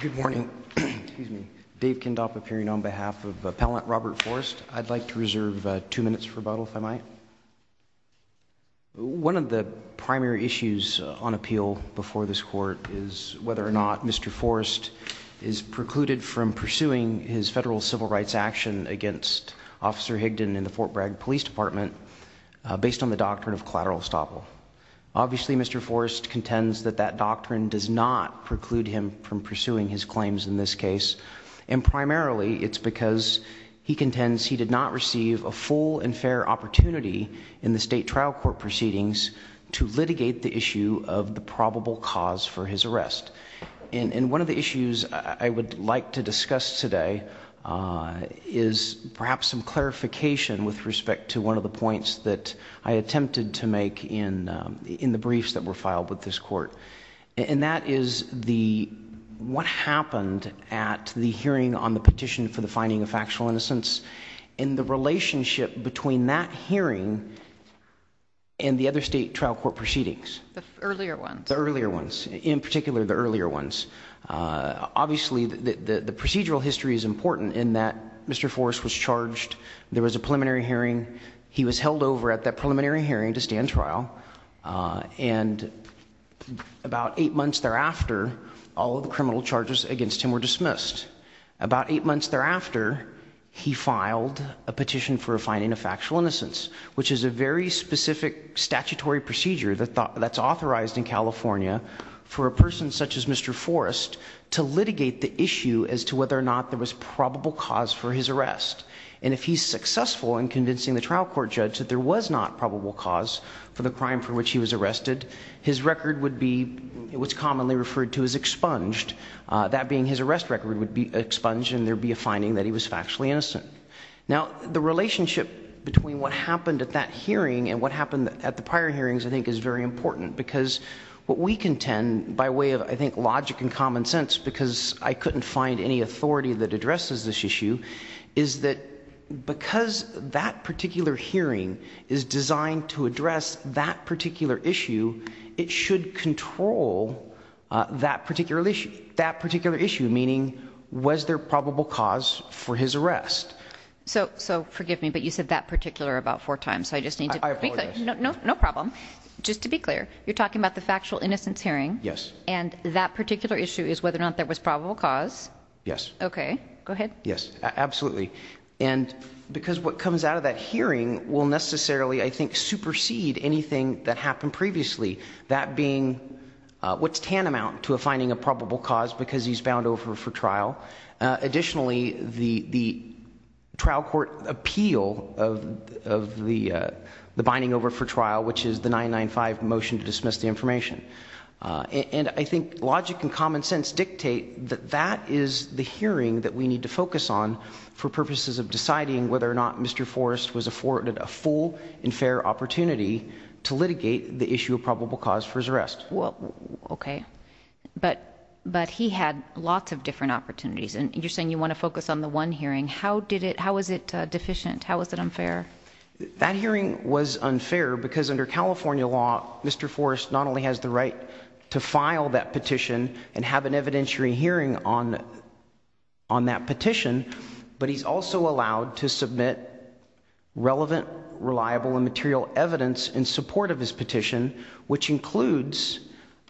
Good morning, excuse me, Dave Kindop of hearing on behalf of appellant Robert Forest. I'd like to reserve two minutes for rebuttal if I might One of the primary issues on appeal before this court is whether or not mr. Forest is precluded from pursuing his federal civil rights action against officer Higdon in the Fort Bragg Police Department Based on the doctrine of collateral estoppel Obviously, mr. Forrest contends that that doctrine does not preclude him from pursuing his claims in this case and Primarily, it's because he contends. He did not receive a full and fair opportunity in the state trial court proceedings To litigate the issue of the probable cause for his arrest in in one of the issues. I would like to discuss today is perhaps some clarification with respect to one of the points that I attempted to make in the briefs that were filed with this court and that is the what happened at the hearing on the petition for the finding of factual innocence in the relationship between that hearing And the other state trial court proceedings the earlier ones the earlier ones in particular the earlier ones Obviously the the procedural history is important in that. Mr. Forrest was charged. There was a preliminary hearing He was held over at that preliminary hearing to stand trial and About eight months thereafter all of the criminal charges against him were dismissed about eight months thereafter He filed a petition for a fine in a factual innocence, which is a very specific Statutory procedure that thought that's authorized in California for a person such as mr Forrest to litigate the issue as to whether or not there was probable cause for his arrest and if he's For which he was arrested his record would be what's commonly referred to as expunged That being his arrest record would be expunged and there be a finding that he was factually innocent Now the relationship between what happened at that hearing and what happened at the prior hearings I think is very important because what we contend by way of I think logic and common sense because I couldn't find any authority that addresses this issue is that Because that particular hearing is designed to address that particular issue it should control That particular issue that particular issue meaning was there probable cause for his arrest? So so forgive me, but you said that particular about four times. So I just need to know no problem Just to be clear you're talking about the factual innocence hearing. Yes, and that particular issue is whether or not there was probable cause Yes, okay. Go ahead. Yes, absolutely and Because what comes out of that hearing will necessarily I think supersede anything that happened previously that being What's tantamount to a finding a probable cause because he's bound over for trial? additionally the trial court appeal of The the binding over for trial which is the nine nine five motion to dismiss the information And I think logic and common sense dictate that that is the hearing that we need to focus on For purposes of deciding whether or not. Mr. Forrest was afforded a full and fair opportunity to litigate the issue of probable cause for his arrest. Well, okay But but he had lots of different opportunities and you're saying you want to focus on the one hearing How did it how is it deficient? How is it unfair? That hearing was unfair because under California law. Mr Forrest not only has the right to file that petition and have an evidentiary hearing on on That petition, but he's also allowed to submit relevant reliable and material evidence in support of his petition which includes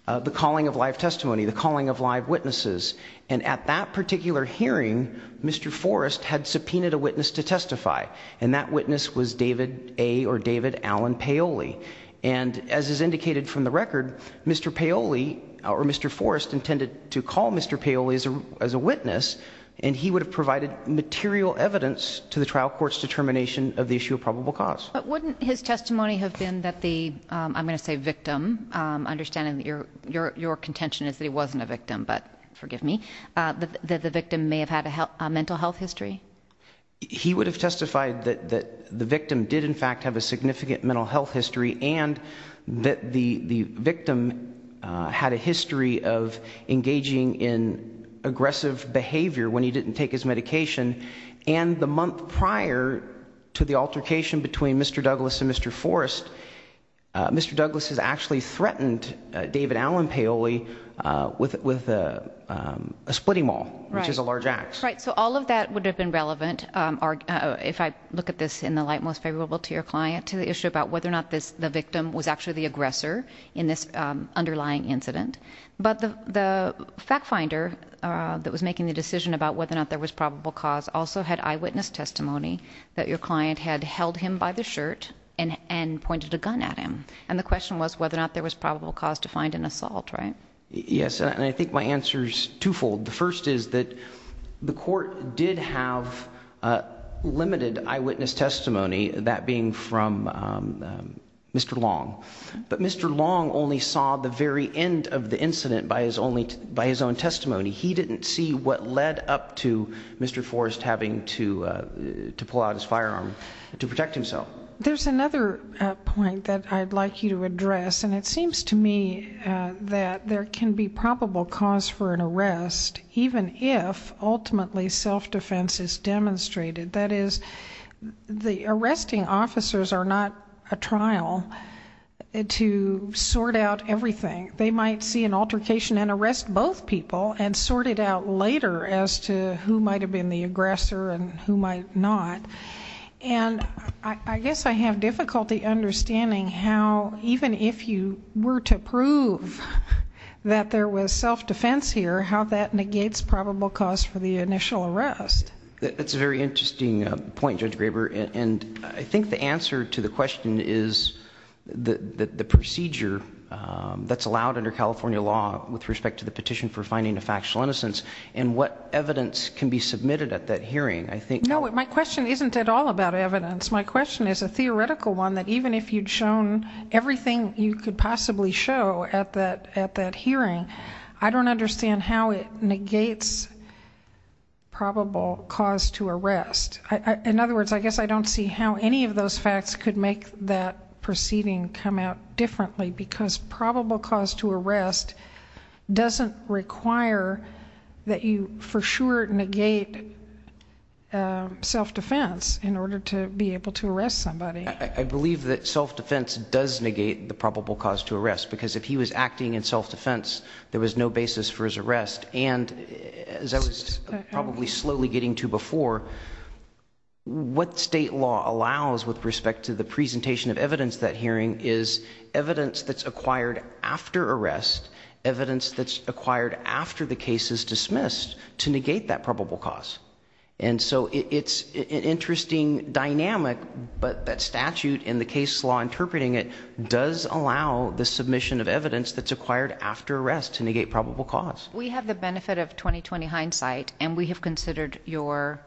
The calling of life testimony the calling of live witnesses and at that particular hearing. Mr Forrest had subpoenaed a witness to testify and that witness was David a or David Allen Paoli and As is indicated from the record. Mr. Paoli or mr Forrest intended to call mr Paoli as a witness and he would have provided material evidence to the trial courts determination of the issue of probable cause But wouldn't his testimony have been that the I'm gonna say victim Understanding that your your your contention is that he wasn't a victim, but forgive me that the victim may have had a mental health history he would have testified that that the victim did in fact have a significant mental health history and that the the victim Had a history of engaging in Aggressive behavior when he didn't take his medication and the month prior to the altercation between mr. Douglas and mr. Forrest Mr. Douglas has actually threatened David Allen Paoli with with a Splitting wall, which is a large axe, right? So all of that would have been relevant Are if I look at this in the light most favorable to your client to the issue about whether or not this the victim was Actually the aggressor in this underlying incident, but the the fact finder that was making the decision about whether or not there was probable cause also had eyewitness testimony that your client had held him by the Shirt and and pointed a gun at him and the question was whether or not there was probable cause to find an assault, right? Yes, and I think my answer is twofold. The first is that the court did have limited eyewitness testimony that being from Mr. Long, but mr. Long only saw the very end of the incident by his only by his own testimony He didn't see what led up to mr. Forrest having to To pull out his firearm to protect himself. There's another point that I'd like you to address and it seems to me that there can be probable cause for an arrest even if ultimately self-defense is demonstrated that is The arresting officers are not a trial to sort out everything they might see an altercation and arrest both people and sort it out later as to who might have been the aggressor and who might not and I guess I have difficulty understanding how even if you were to prove That there was self-defense here how that negates probable cause for the initial arrest That's a very interesting point judge Graber and I think the answer to the question is the the procedure That's allowed under California law with respect to the petition for finding a factual innocence and what? Evidence can be submitted at that hearing. I think no my question isn't at all about evidence My question is a theoretical one that even if you'd shown Everything you could possibly show at that at that hearing. I don't understand how it negates Probable cause to arrest in other words I guess I don't see how any of those facts could make that proceeding come out differently because probable cause to arrest Doesn't require that you for sure negate Self-defense in order to be able to arrest somebody I believe that self-defense does negate the probable cause to arrest because if he was acting in self-defense there was no basis for his arrest and As I was probably slowly getting to before What state law allows with respect to the presentation of evidence that hearing is evidence that's acquired after arrest Evidence that's acquired after the case is dismissed to negate that probable cause and so it's an interesting Dynamic, but that statute in the case law interpreting it does allow the submission of evidence That's acquired after arrest to negate probable cause we have the benefit of 2020 hindsight, and we have considered your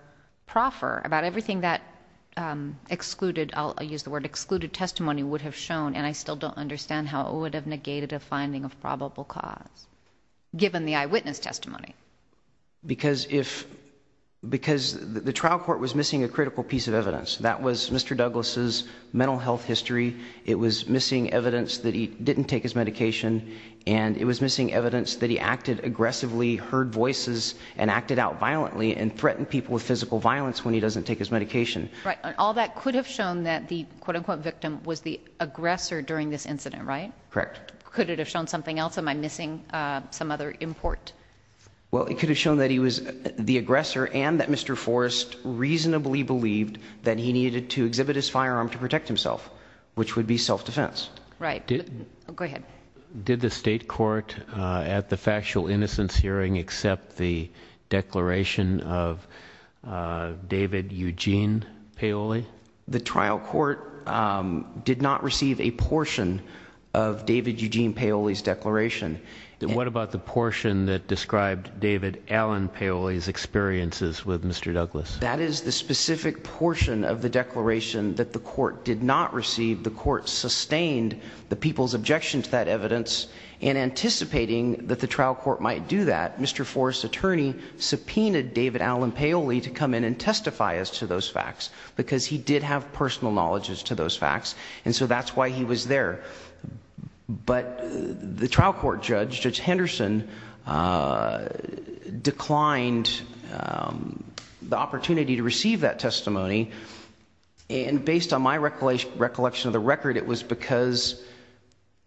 proffer about everything that Excluded I'll use the word excluded testimony would have shown and I still don't understand how it would have negated a finding of probable cause given the eyewitness testimony because if Because the trial court was missing a critical piece of evidence. That was mr. Douglas's mental health history It was missing evidence that he didn't take his medication and it was missing evidence that he acted aggressively heard voices and acted out violently and threatened people with physical violence when he doesn't take His medication right all that could have shown that the quote-unquote victim was the aggressor during this incident, right? Correct could it have shown something else am I missing some other import? Well, it could have shown that he was the aggressor and that mr. Forrest reasonably believed that he needed to exhibit his firearm to protect himself, which would be self-defense, right? did the state court at the factual innocence hearing accept the declaration of David Eugene Paoli the trial court Did not receive a portion of David Eugene Paoli's declaration What about the portion that described David Allen Paoli's experiences with mr. Douglas That is the specific portion of the declaration that the court did not receive the court sustained the people's objection to that evidence In anticipating that the trial court might do that. Mr. Forrest attorney Subpoenaed David Allen Paoli to come in and testify as to those facts because he did have personal knowledges to those facts And so that's why he was there But the trial court judge judge Henderson Declined The opportunity to receive that testimony and based on my recollection recollection of the record it was because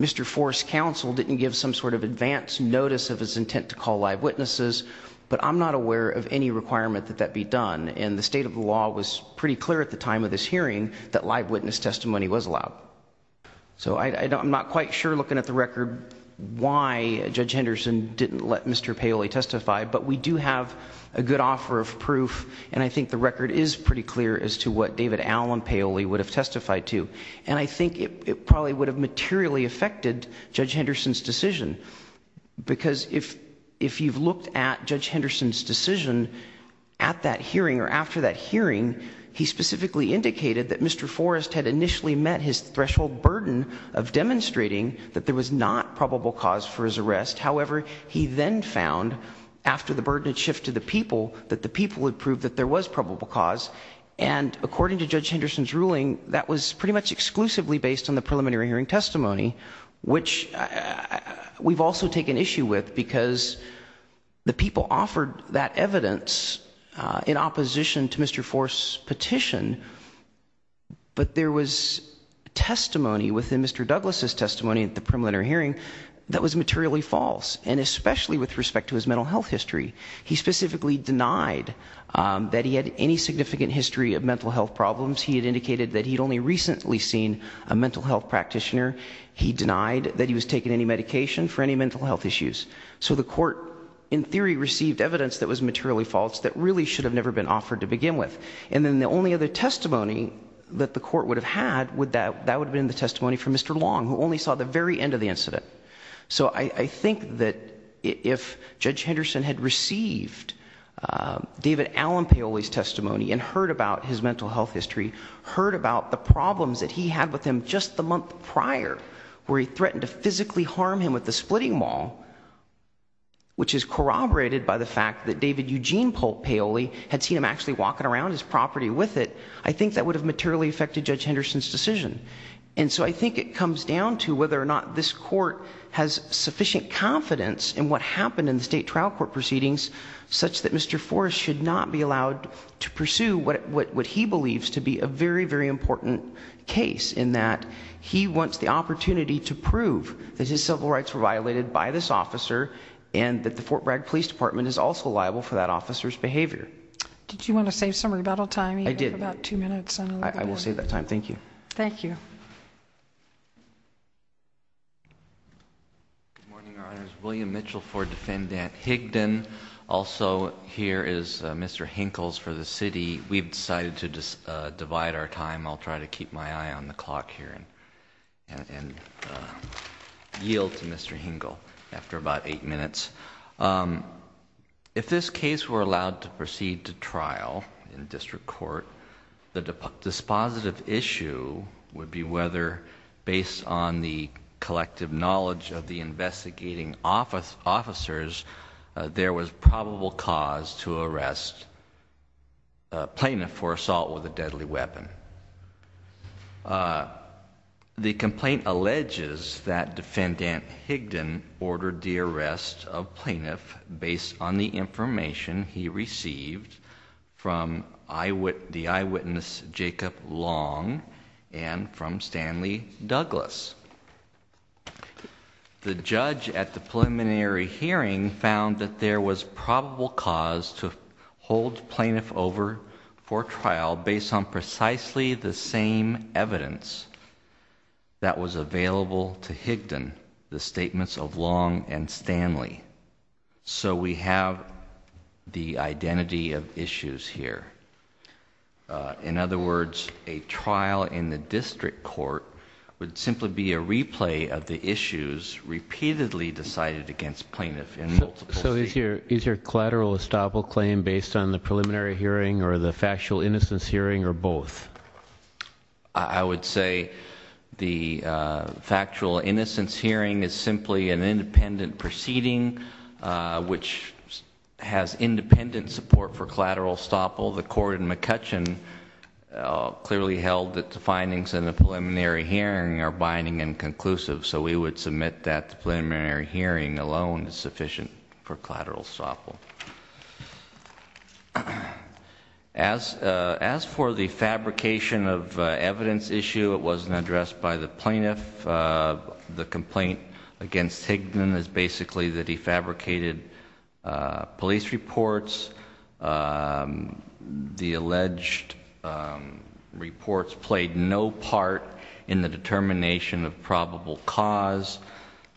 Mr. Forrest counsel didn't give some sort of advance notice of his intent to call live witnesses But I'm not aware of any requirement that that be done and the state of the law was pretty clear at the time of this Hearing that live witness testimony was allowed So, I don't I'm not quite sure looking at the record why judge Henderson didn't let mr Paoli testify but we do have a good offer of proof and I think the record is pretty clear as to what David Allen Paoli would have Testified to and I think it probably would have materially affected judge Henderson's decision Because if if you've looked at judge Henderson's decision at that hearing or after that hearing he specifically Indicated that mr. Forrest had initially met his threshold burden of demonstrating that there was not probable cause for his arrest however, he then found after the burden had shifted the people that the people had proved that there was probable cause and according to judge Henderson's ruling that was pretty much exclusively based on the preliminary hearing testimony, which we've also taken issue with because The people offered that evidence In opposition to mr. Forrest petition but there was Testimony within mr. Douglas's testimony at the preliminary hearing that was materially false and especially with respect to his mental health history He specifically denied That he had any significant history of mental health problems He had indicated that he'd only recently seen a mental health practitioner He denied that he was taking any medication for any mental health issues So the court in theory received evidence that was materially false that really should have never been offered to begin with and then the only Other testimony that the court would have had would that that would have been the testimony from mr Long who only saw the very end of the incident. So I think that if judge Henderson had received David Allen Paoli's testimony and heard about his mental health history heard about the problems that he had with him just the month prior Where he threatened to physically harm him with the splitting ball Which is corroborated by the fact that David Eugene Paul Paoli had seen him actually walking around his property with it I think that would have materially affected judge Henderson's decision And so I think it comes down to whether or not this court has sufficient confidence And what happened in the state trial court proceedings such that mr Forrest should not be allowed to pursue what what he believes to be a very very important case in that he wants the opportunity to prove that his civil rights were violated by this officer and That the Fort Bragg Police Department is also liable for that officer's behavior Did you want to save some rebuttal time? I did about two minutes. I will save that time. Thank you. Thank you William Mitchell for defendant Higdon also here is mr. Hinkle's for the city. We've decided to just divide our time I'll try to keep my eye on the clock here and Yield to mr. Hinkle after about eight minutes If this case were allowed to proceed to trial in the district court the dispositive issue would be whether based on the collective knowledge of the investigating office officers There was probable cause to arrest Plaintiff for assault with a deadly weapon The complaint alleges that defendant Higdon ordered the arrest of plaintiff based on the information he received from I would the eyewitness Jacob long and from Stanley Douglas The judge at the preliminary hearing found that there was probable cause to Precisely the same evidence That was available to Higdon the statements of long and Stanley so we have the identity of issues here In other words a trial in the district court would simply be a replay of the issues repeatedly decided against plaintiff and so is here is your collateral estoppel claim based on the preliminary hearing or the factual innocence hearing or both I would say the Factual innocence hearing is simply an independent proceeding which Has independent support for collateral estoppel the court in McCutcheon Clearly held that the findings in the preliminary hearing are binding and conclusive So we would submit that the preliminary hearing alone is sufficient for collateral estoppel As As for the fabrication of evidence issue it wasn't addressed by the plaintiff The complaint against Higdon is basically the defabricated police reports The alleged Reports played no part in the determination of probable cause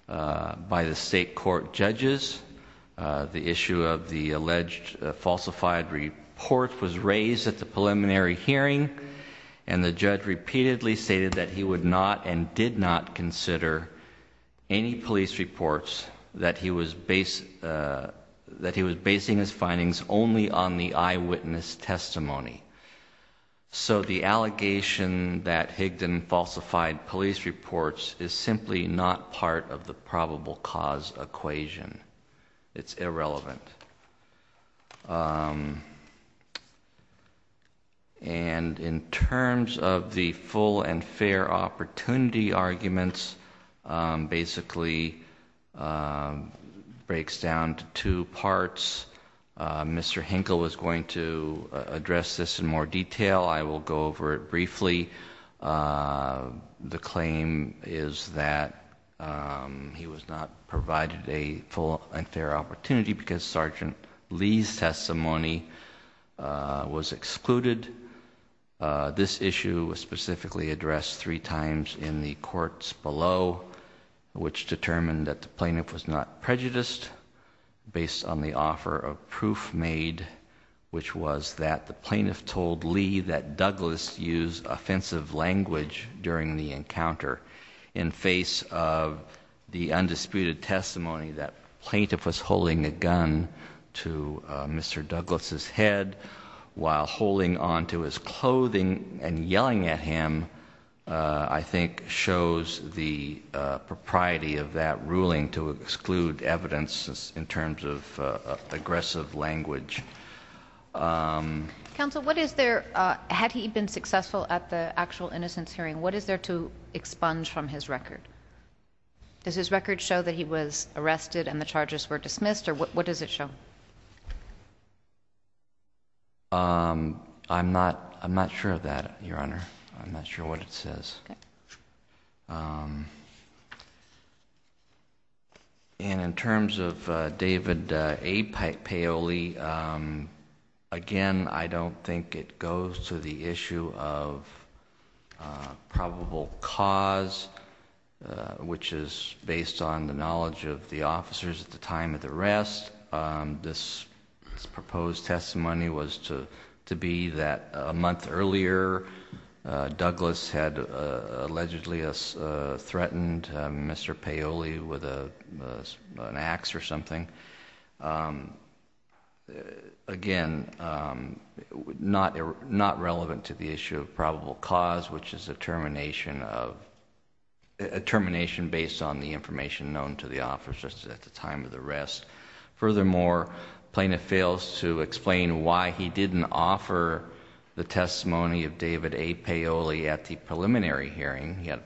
by the state court judges The issue of the alleged falsified report was raised at the preliminary hearing and the judge repeatedly stated that he would not and did not consider Any police reports that he was based? That he was basing his findings only on the eyewitness testimony So the allegation that Higdon falsified police reports is simply not part of the probable cause Equation it's irrelevant And in terms of the full and fair opportunity arguments basically Breaks down to two parts Mr. Hinkle was going to address this in more detail. I will go over it briefly The claim is that He was not provided a full and fair opportunity because sergeant Lee's testimony was excluded This issue was specifically addressed three times in the courts below Which determined that the plaintiff was not prejudiced based on the offer of proof made Which was that the plaintiff told Lee that Douglas used offensive language during the encounter in the face of The undisputed testimony that plaintiff was holding a gun to Mr. Douglas's head While holding on to his clothing and yelling at him I think shows the propriety of that ruling to exclude evidence in terms of aggressive language Counsel what is there had he been successful at the actual innocence hearing? What is there to expunge from his record? Does his record show that he was arrested and the charges were dismissed or what does it show? I'm not I'm not sure of that your honor. I'm not sure what it says And in terms of David A. Paoli again, I don't think it goes to the issue of Probable cause Which is based on the knowledge of the officers at the time of the rest This proposed testimony was to to be that a month earlier Douglas had allegedly us threatened. Mr. Paoli with a axe or something Again not not relevant to the issue of probable cause which is a termination of A termination based on the information known to the officers at the time of the rest furthermore plaintiff fails to explain why he didn't offer The testimony of David A. Paoli at the preliminary hearing he had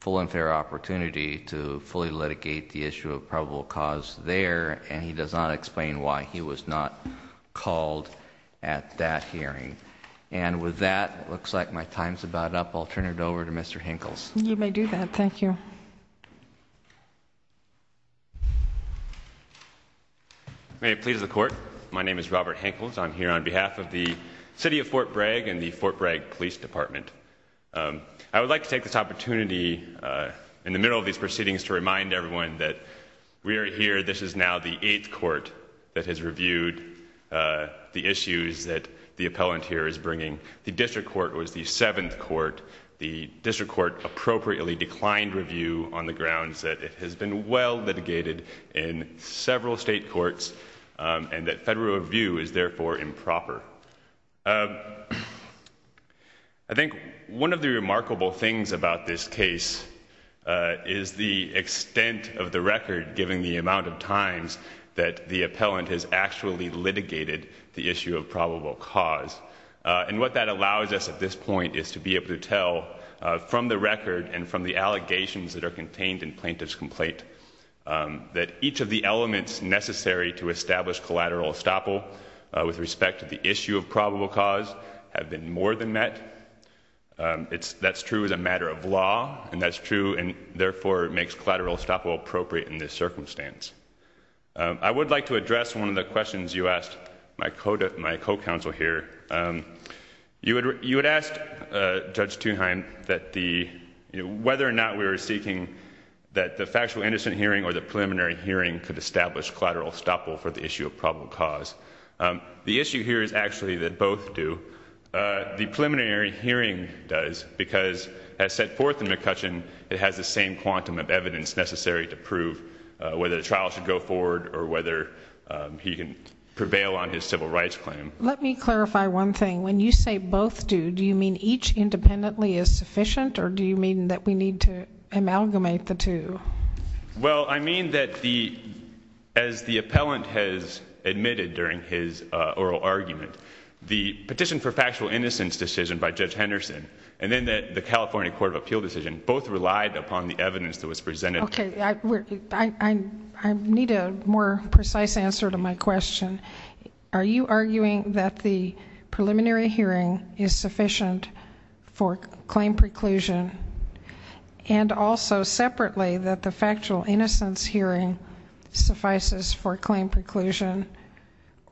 full and fair opportunity To fully litigate the issue of probable cause there and he does not explain why he was not Called at that hearing and with that it looks like my times about up. I'll turn it over to mr. Hinkle's Thank you May it please the court. My name is Robert Hinkle's I'm here on behalf of the city of Fort Bragg and the Fort Bragg Police Department I would like to take this opportunity In the middle of these proceedings to remind everyone that we are here. This is now the eighth court that has reviewed The issues that the appellant here is bringing the district court was the seventh court the district court Appropriately declined review on the grounds that it has been well litigated in several state courts And that federal review is therefore improper. I Think one of the remarkable things about this case Is the extent of the record given the amount of times that the appellant has actually litigated the issue of probable cause And what that allows us at this point is to be able to tell From the record and from the allegations that are contained in plaintiff's complaint That each of the elements necessary to establish collateral estoppel with respect to the issue of probable cause have been more than met It's that's true as a matter of law and that's true and therefore it makes collateral estoppel appropriate in this circumstance I would like to address one of the questions you asked my code of my co-counsel here you would you had asked judge to him that the Whether or not we were seeking that the factual innocent hearing or the preliminary hearing could establish collateral estoppel for the issue of probable cause The issue here is actually that both do The preliminary hearing does because as set forth in McCutcheon It has the same quantum of evidence necessary to prove whether the trial should go forward or whether He can prevail on his civil rights claim. Let me clarify one thing when you say both do do you mean each? Independently is sufficient or do you mean that we need to amalgamate the two? well, I mean that the as Admitted during his oral argument the petition for factual innocence decision by judge Henderson And then that the California Court of Appeal decision both relied upon the evidence that was presented. Okay, I Need a more precise answer to my question. Are you arguing that the Preliminary hearing is sufficient for claim preclusion And also separately that the factual innocence hearing Suffices for claim preclusion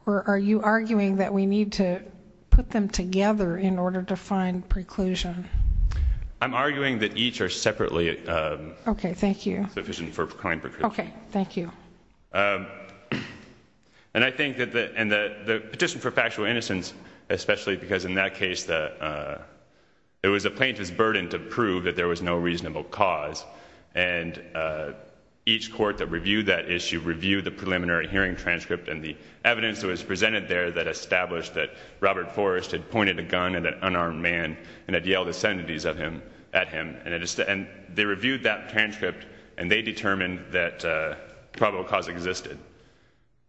Or are you arguing that we need to put them together in order to find preclusion? I'm arguing that each are separately Okay. Thank you sufficient for crime. Okay. Thank you And I think that the and the petition for factual innocence especially because in that case that it was a plaintiff's burden to prove that there was no reasonable cause and Each court that reviewed that issue reviewed the preliminary hearing transcript and the evidence that was presented there that established that Robert Forrest had pointed a gun at an unarmed man and had yelled ascendities of him at him and it is and they reviewed that transcript and they determined that probable cause existed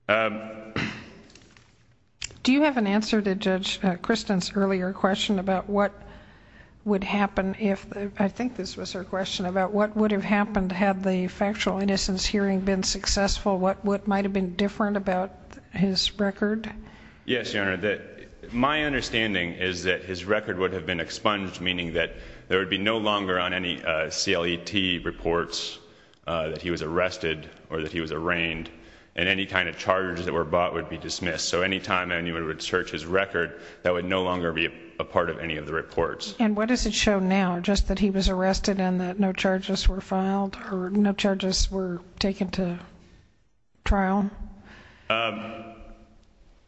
Do you have an answer to judge Kristen's earlier question about what Factual innocence hearing been successful. What what might have been different about his record? Yes, your honor that my understanding is that his record would have been expunged meaning that there would be no longer on any CLET reports That he was arrested or that he was arraigned and any kind of charges that were bought would be dismissed So anytime anyone would search his record that would no longer be a part of any of the reports And what does it show now just that he was arrested and that no charges were filed or no charges were taken to trial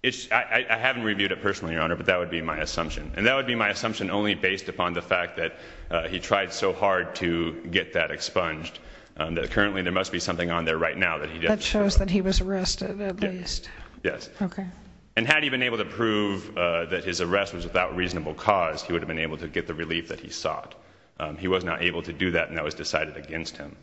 It's I haven't reviewed it personally your honor But that would be my assumption and that would be my assumption only based upon the fact that he tried so hard to get that Expunged that currently there must be something on there right now that he just shows that he was arrested at least Yes, okay And had he been able to prove that his arrest was without reasonable cause he would have been able to get the relief that he sought He was not able to do that and that was decided against him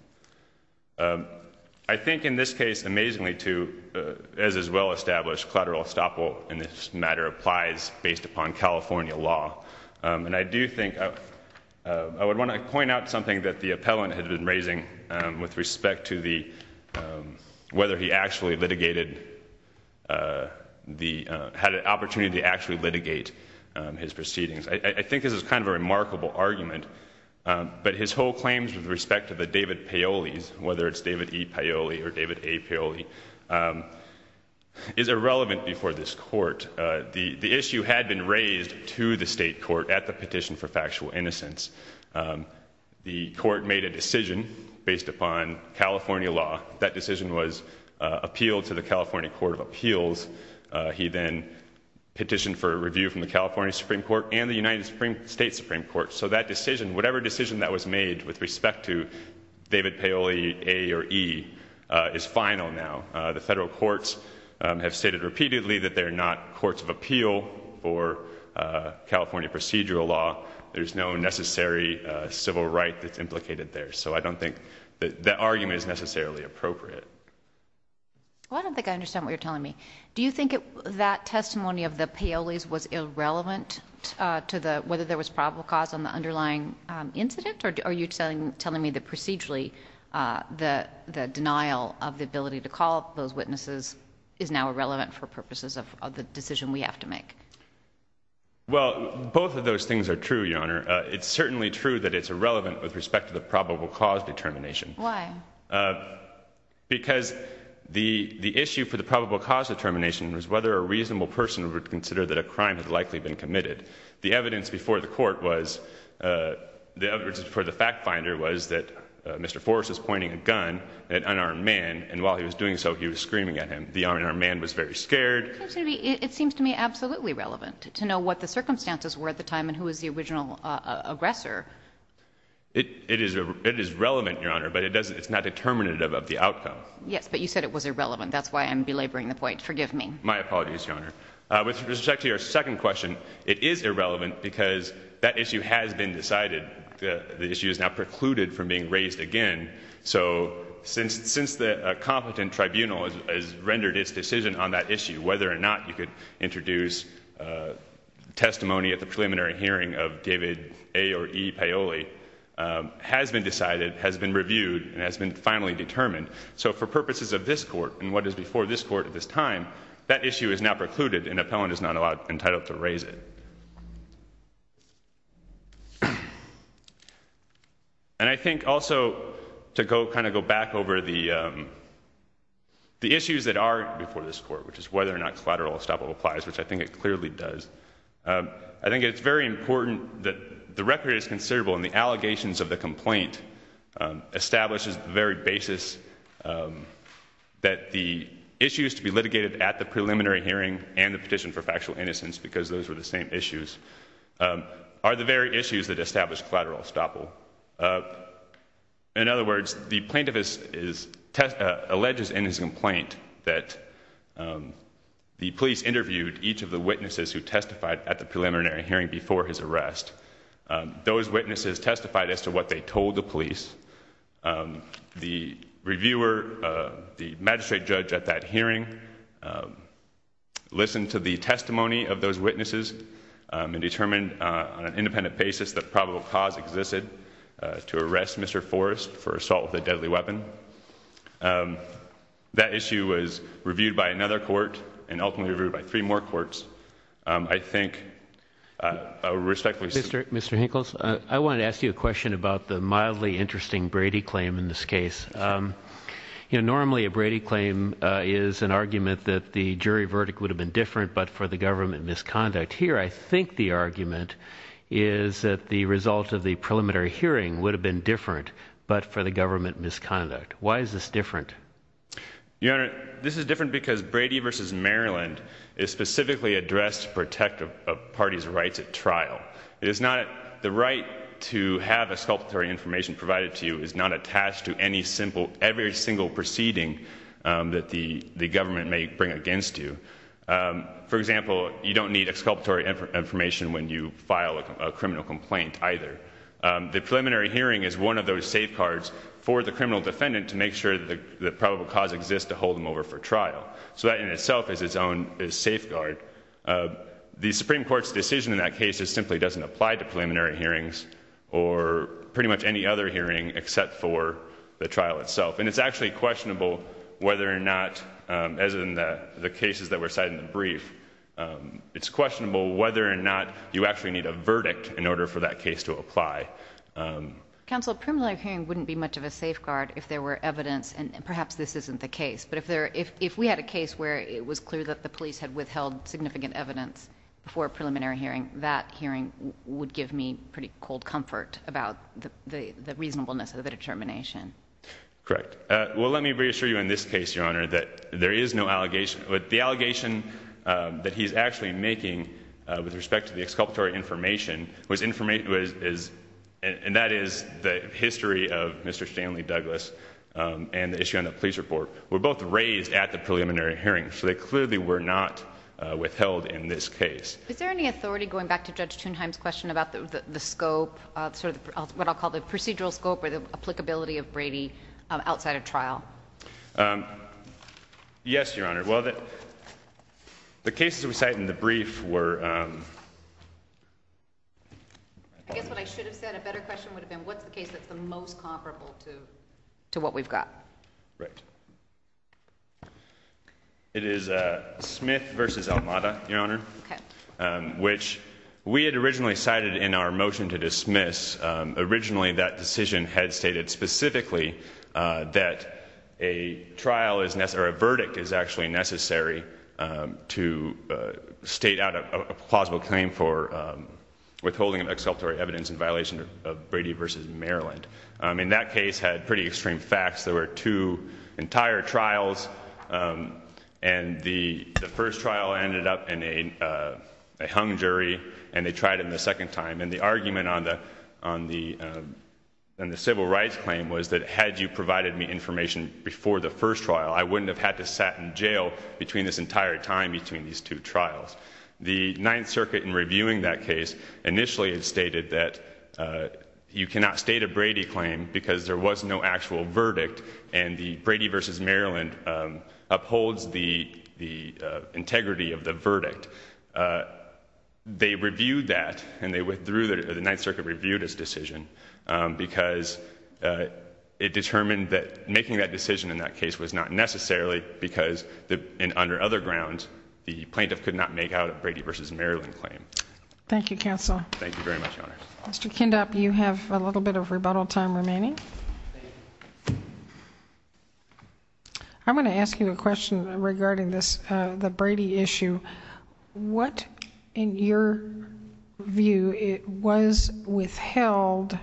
I think in this case amazingly to as is well established collateral estoppel in this matter applies based upon California law and I do think I would want to point out something that the appellant had been raising with respect to the Whether he actually litigated The had an opportunity to actually litigate his proceedings, I think this is kind of a remarkable argument But his whole claims with respect to the David Paoli's whether it's David e Paoli or David a Paoli Is irrelevant before this court the the issue had been raised to the state court at the petition for factual innocence The court made a decision based upon California law that decision was Appealed to the California Court of Appeals he then Petitioned for a review from the California Supreme Court and the United States Supreme Court so that decision whatever decision that was made with respect to David Paoli a or e Is final now the federal courts have stated repeatedly that they're not courts of appeal or California procedural law there's no necessary civil right that's implicated there. So I don't think that that argument is necessarily appropriate I don't think I understand what you're telling me. Do you think it that testimony of the Paoli's was irrelevant? To the whether there was probable cause on the underlying Incident or are you telling telling me the procedurally? The the denial of the ability to call those witnesses is now irrelevant for purposes of the decision we have to make Well, both of those things are true. Your honor. It's certainly true that it's irrelevant with respect to the probable cause determination. Why? Because the the issue for the probable cause determination was whether a reasonable person would consider that a crime had likely been committed the evidence before the court was The evidence for the fact finder was that? Mr. Forrest is pointing a gun at an unarmed man and while he was doing so he was screaming at him The unarmed man was very scared It seems to me absolutely relevant to know what the circumstances were at the time and who is the original aggressor? It is it is relevant your honor, but it doesn't it's not determinative of the outcome. Yes, but you said it was irrelevant That's why I'm belaboring the point. Forgive me. My apologies your honor with respect to your second question It is irrelevant because that issue has been decided. The issue is now precluded from being raised again So since since the competent tribunal has rendered its decision on that issue whether or not you could introduce Testimony at the preliminary hearing of David A or E Paoli Has been decided has been reviewed and has been finally determined So for purposes of this court and what is before this court at this time? That issue is now precluded and appellant is not allowed entitled to raise it And I think also to go kind of go back over the The issues that are before this court, which is whether or not collateral estoppel applies, which I think it clearly does I think it's very important that the record is considerable and the allegations of the complaint establishes the very basis That the issues to be litigated at the preliminary hearing and the petition for factual innocence because those were the same issues Are the very issues that establish collateral estoppel? In other words the plaintiff is alleges in his complaint that The police interviewed each of the witnesses who testified at the preliminary hearing before his arrest Those witnesses testified as to what they told the police the reviewer the magistrate judge at that hearing Listened to the testimony of those witnesses And determined on an independent basis that probable cause existed to arrest mr. Forrest for assault with a deadly weapon That issue was reviewed by another court and ultimately reviewed by three more courts, I think Respectfully, sir. Mr. Hinkles. I want to ask you a question about the mildly interesting Brady claim in this case You know, normally a Brady claim is an argument that the jury verdict would have been different but for the government misconduct Here, I think the argument is that the result of the preliminary hearing would have been different but for the government misconduct Why is this different? You know, this is different because Brady versus Maryland is specifically addressed to protect a party's rights at trial It is not the right to have a sculptor information provided to you is not attached to any simple every single proceeding That the the government may bring against you For example, you don't need a sculptor information when you file a criminal complaint either The preliminary hearing is one of those safeguards for the criminal defendant to make sure that the probable cause exists to hold them over for trial So that in itself is its own safeguard the Supreme Court's decision in that case is simply doesn't apply to preliminary hearings or Pretty much any other hearing except for the trial itself and it's actually questionable whether or not As in the the cases that were cited in the brief It's questionable whether or not you actually need a verdict in order for that case to apply Counsel preliminary hearing wouldn't be much of a safeguard if there were evidence and perhaps this isn't the case But if there if we had a case where it was clear that the police had withheld significant evidence Before a preliminary hearing that hearing would give me pretty cold comfort about the reasonableness of the determination Correct well, let me reassure you in this case your honor that there is no allegation with the allegation that he's actually making with respect to the exculpatory information was information is and that is the History of mr. Stanley Douglas And the issue on the police report were both raised at the preliminary hearing. So they clearly were not Withheld in this case. Is there any authority going back to judge? Question about the scope sort of what I'll call the procedural scope or the applicability of Brady outside of trial Yes, your honor well that the cases we cite in the brief were To what we've got right It is a Smith versus Elmada your honor Which we had originally cited in our motion to dismiss originally that decision had stated specifically that a Trial is necessary verdict is actually necessary to state out a plausible claim for Withholding an exculpatory evidence in violation of Brady versus Maryland. I mean that case had pretty extreme facts. There were two entire trials and The first trial ended up in a hung jury and they tried it in the second time and the argument on the on the And the civil rights claim was that had you provided me information before the first trial? I wouldn't have had to sat in jail between this entire time between these two trials the Ninth Circuit in reviewing that case initially had stated that You cannot state a Brady claim because there was no actual verdict and the Brady versus Maryland Upholds the the integrity of the verdict they reviewed that and they withdrew that the Ninth Circuit reviewed his decision because It determined that making that decision in that case was not necessarily Because the in under other grounds the plaintiff could not make out of Brady versus Maryland claim. Thank you counsel Thank you very much. Mr. Kind up. You have a little bit of rebuttal time remaining I'm going to ask you a question regarding this the Brady issue What in your view it was? withheld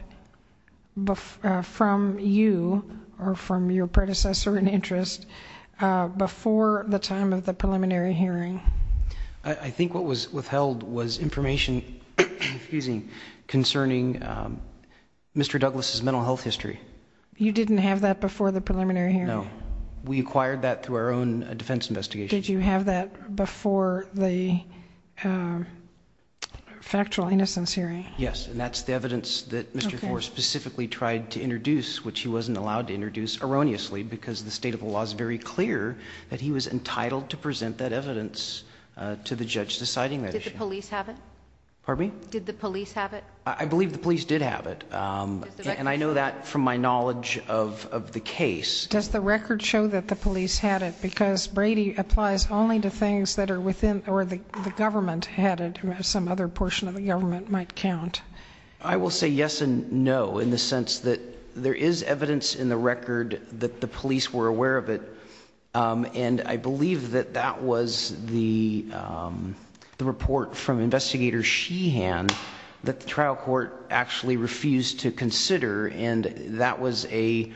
But from you or from your predecessor in interest Before the time of the preliminary hearing. I think what was withheld was information confusing concerning Mr. Douglas's mental health history. You didn't have that before the preliminary here. No, we acquired that through our own defense investigation did you have that before the Factual innocence hearing yes, and that's the evidence that mr For specifically tried to introduce which he wasn't allowed to introduce Erroneously because the state of the law is very clear that he was entitled to present that evidence To the judge deciding that police have it. Pardon me. Did the police have it? I believe the police did have it And I know that from my knowledge of the case does the record show that the police had it because Brady applies only to things that are within or the Government had it some other portion of the government might count I will say yes and no in the sense that there is evidence in the record that the police were aware of it and I believe that that was the The report from investigator she hand that the trial court actually refused to consider and that was a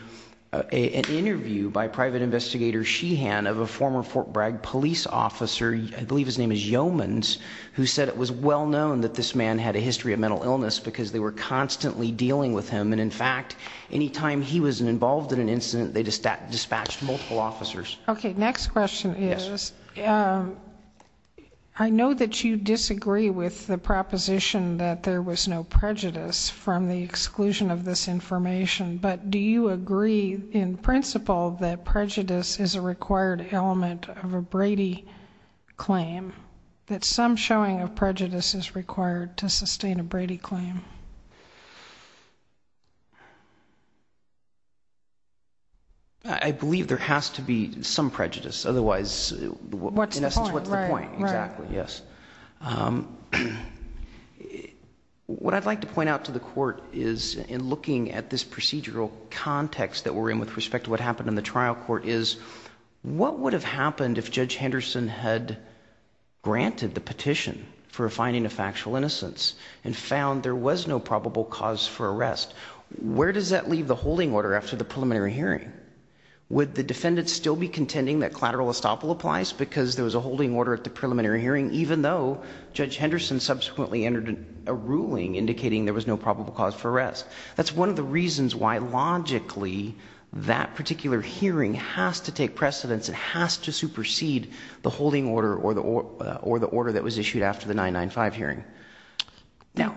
Interview by private investigator she hand of a former Fort Bragg police officer I believe his name is yeoman's Who said it was well known that this man had a history of mental illness because they were constantly dealing with him And in fact any time he was involved in an incident, they just dispatched multiple officers. Okay. Next question is I Know that you disagree with the proposition that there was no prejudice from the exclusion of this information But do you agree in principle that prejudice is a required element of a Brady? Claim that some showing of prejudice is required to sustain a Brady claim I Believe there has to be some prejudice. Otherwise, what's the point exactly? Yes What I'd like to point out to the court is in looking at this procedural context that we're in with respect to what happened in the trial court is What would have happened if judge Henderson had? Granted the petition for a finding of factual innocence and found there was no probable cause for arrest Where does that leave the holding order after the preliminary hearing? Would the defendants still be contending that collateral estoppel applies because there was a holding order at the preliminary hearing even though judge Henderson Subsequently entered a ruling indicating there was no probable cause for arrest. That's one of the reasons why Logically that particular hearing has to take precedence It has to supersede the holding order or the or the order that was issued after the 995 hearing Now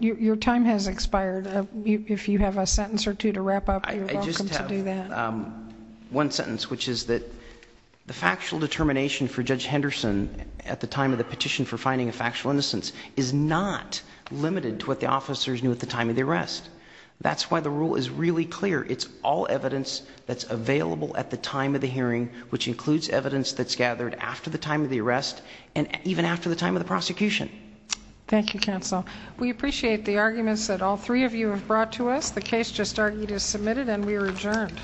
your time has expired if you have a sentence or two to wrap up One sentence which is that The factual determination for judge Henderson at the time of the petition for finding a factual innocence is not Limited to what the officers knew at the time of the arrest. That's why the rule is really clear it's all evidence that's available at the time of the hearing which includes evidence that's gathered after the time of the arrest and even after the time of the prosecution Thank you counsel. We appreciate the arguments that all three of you have brought to us the case just argued is submitted and we were adjourned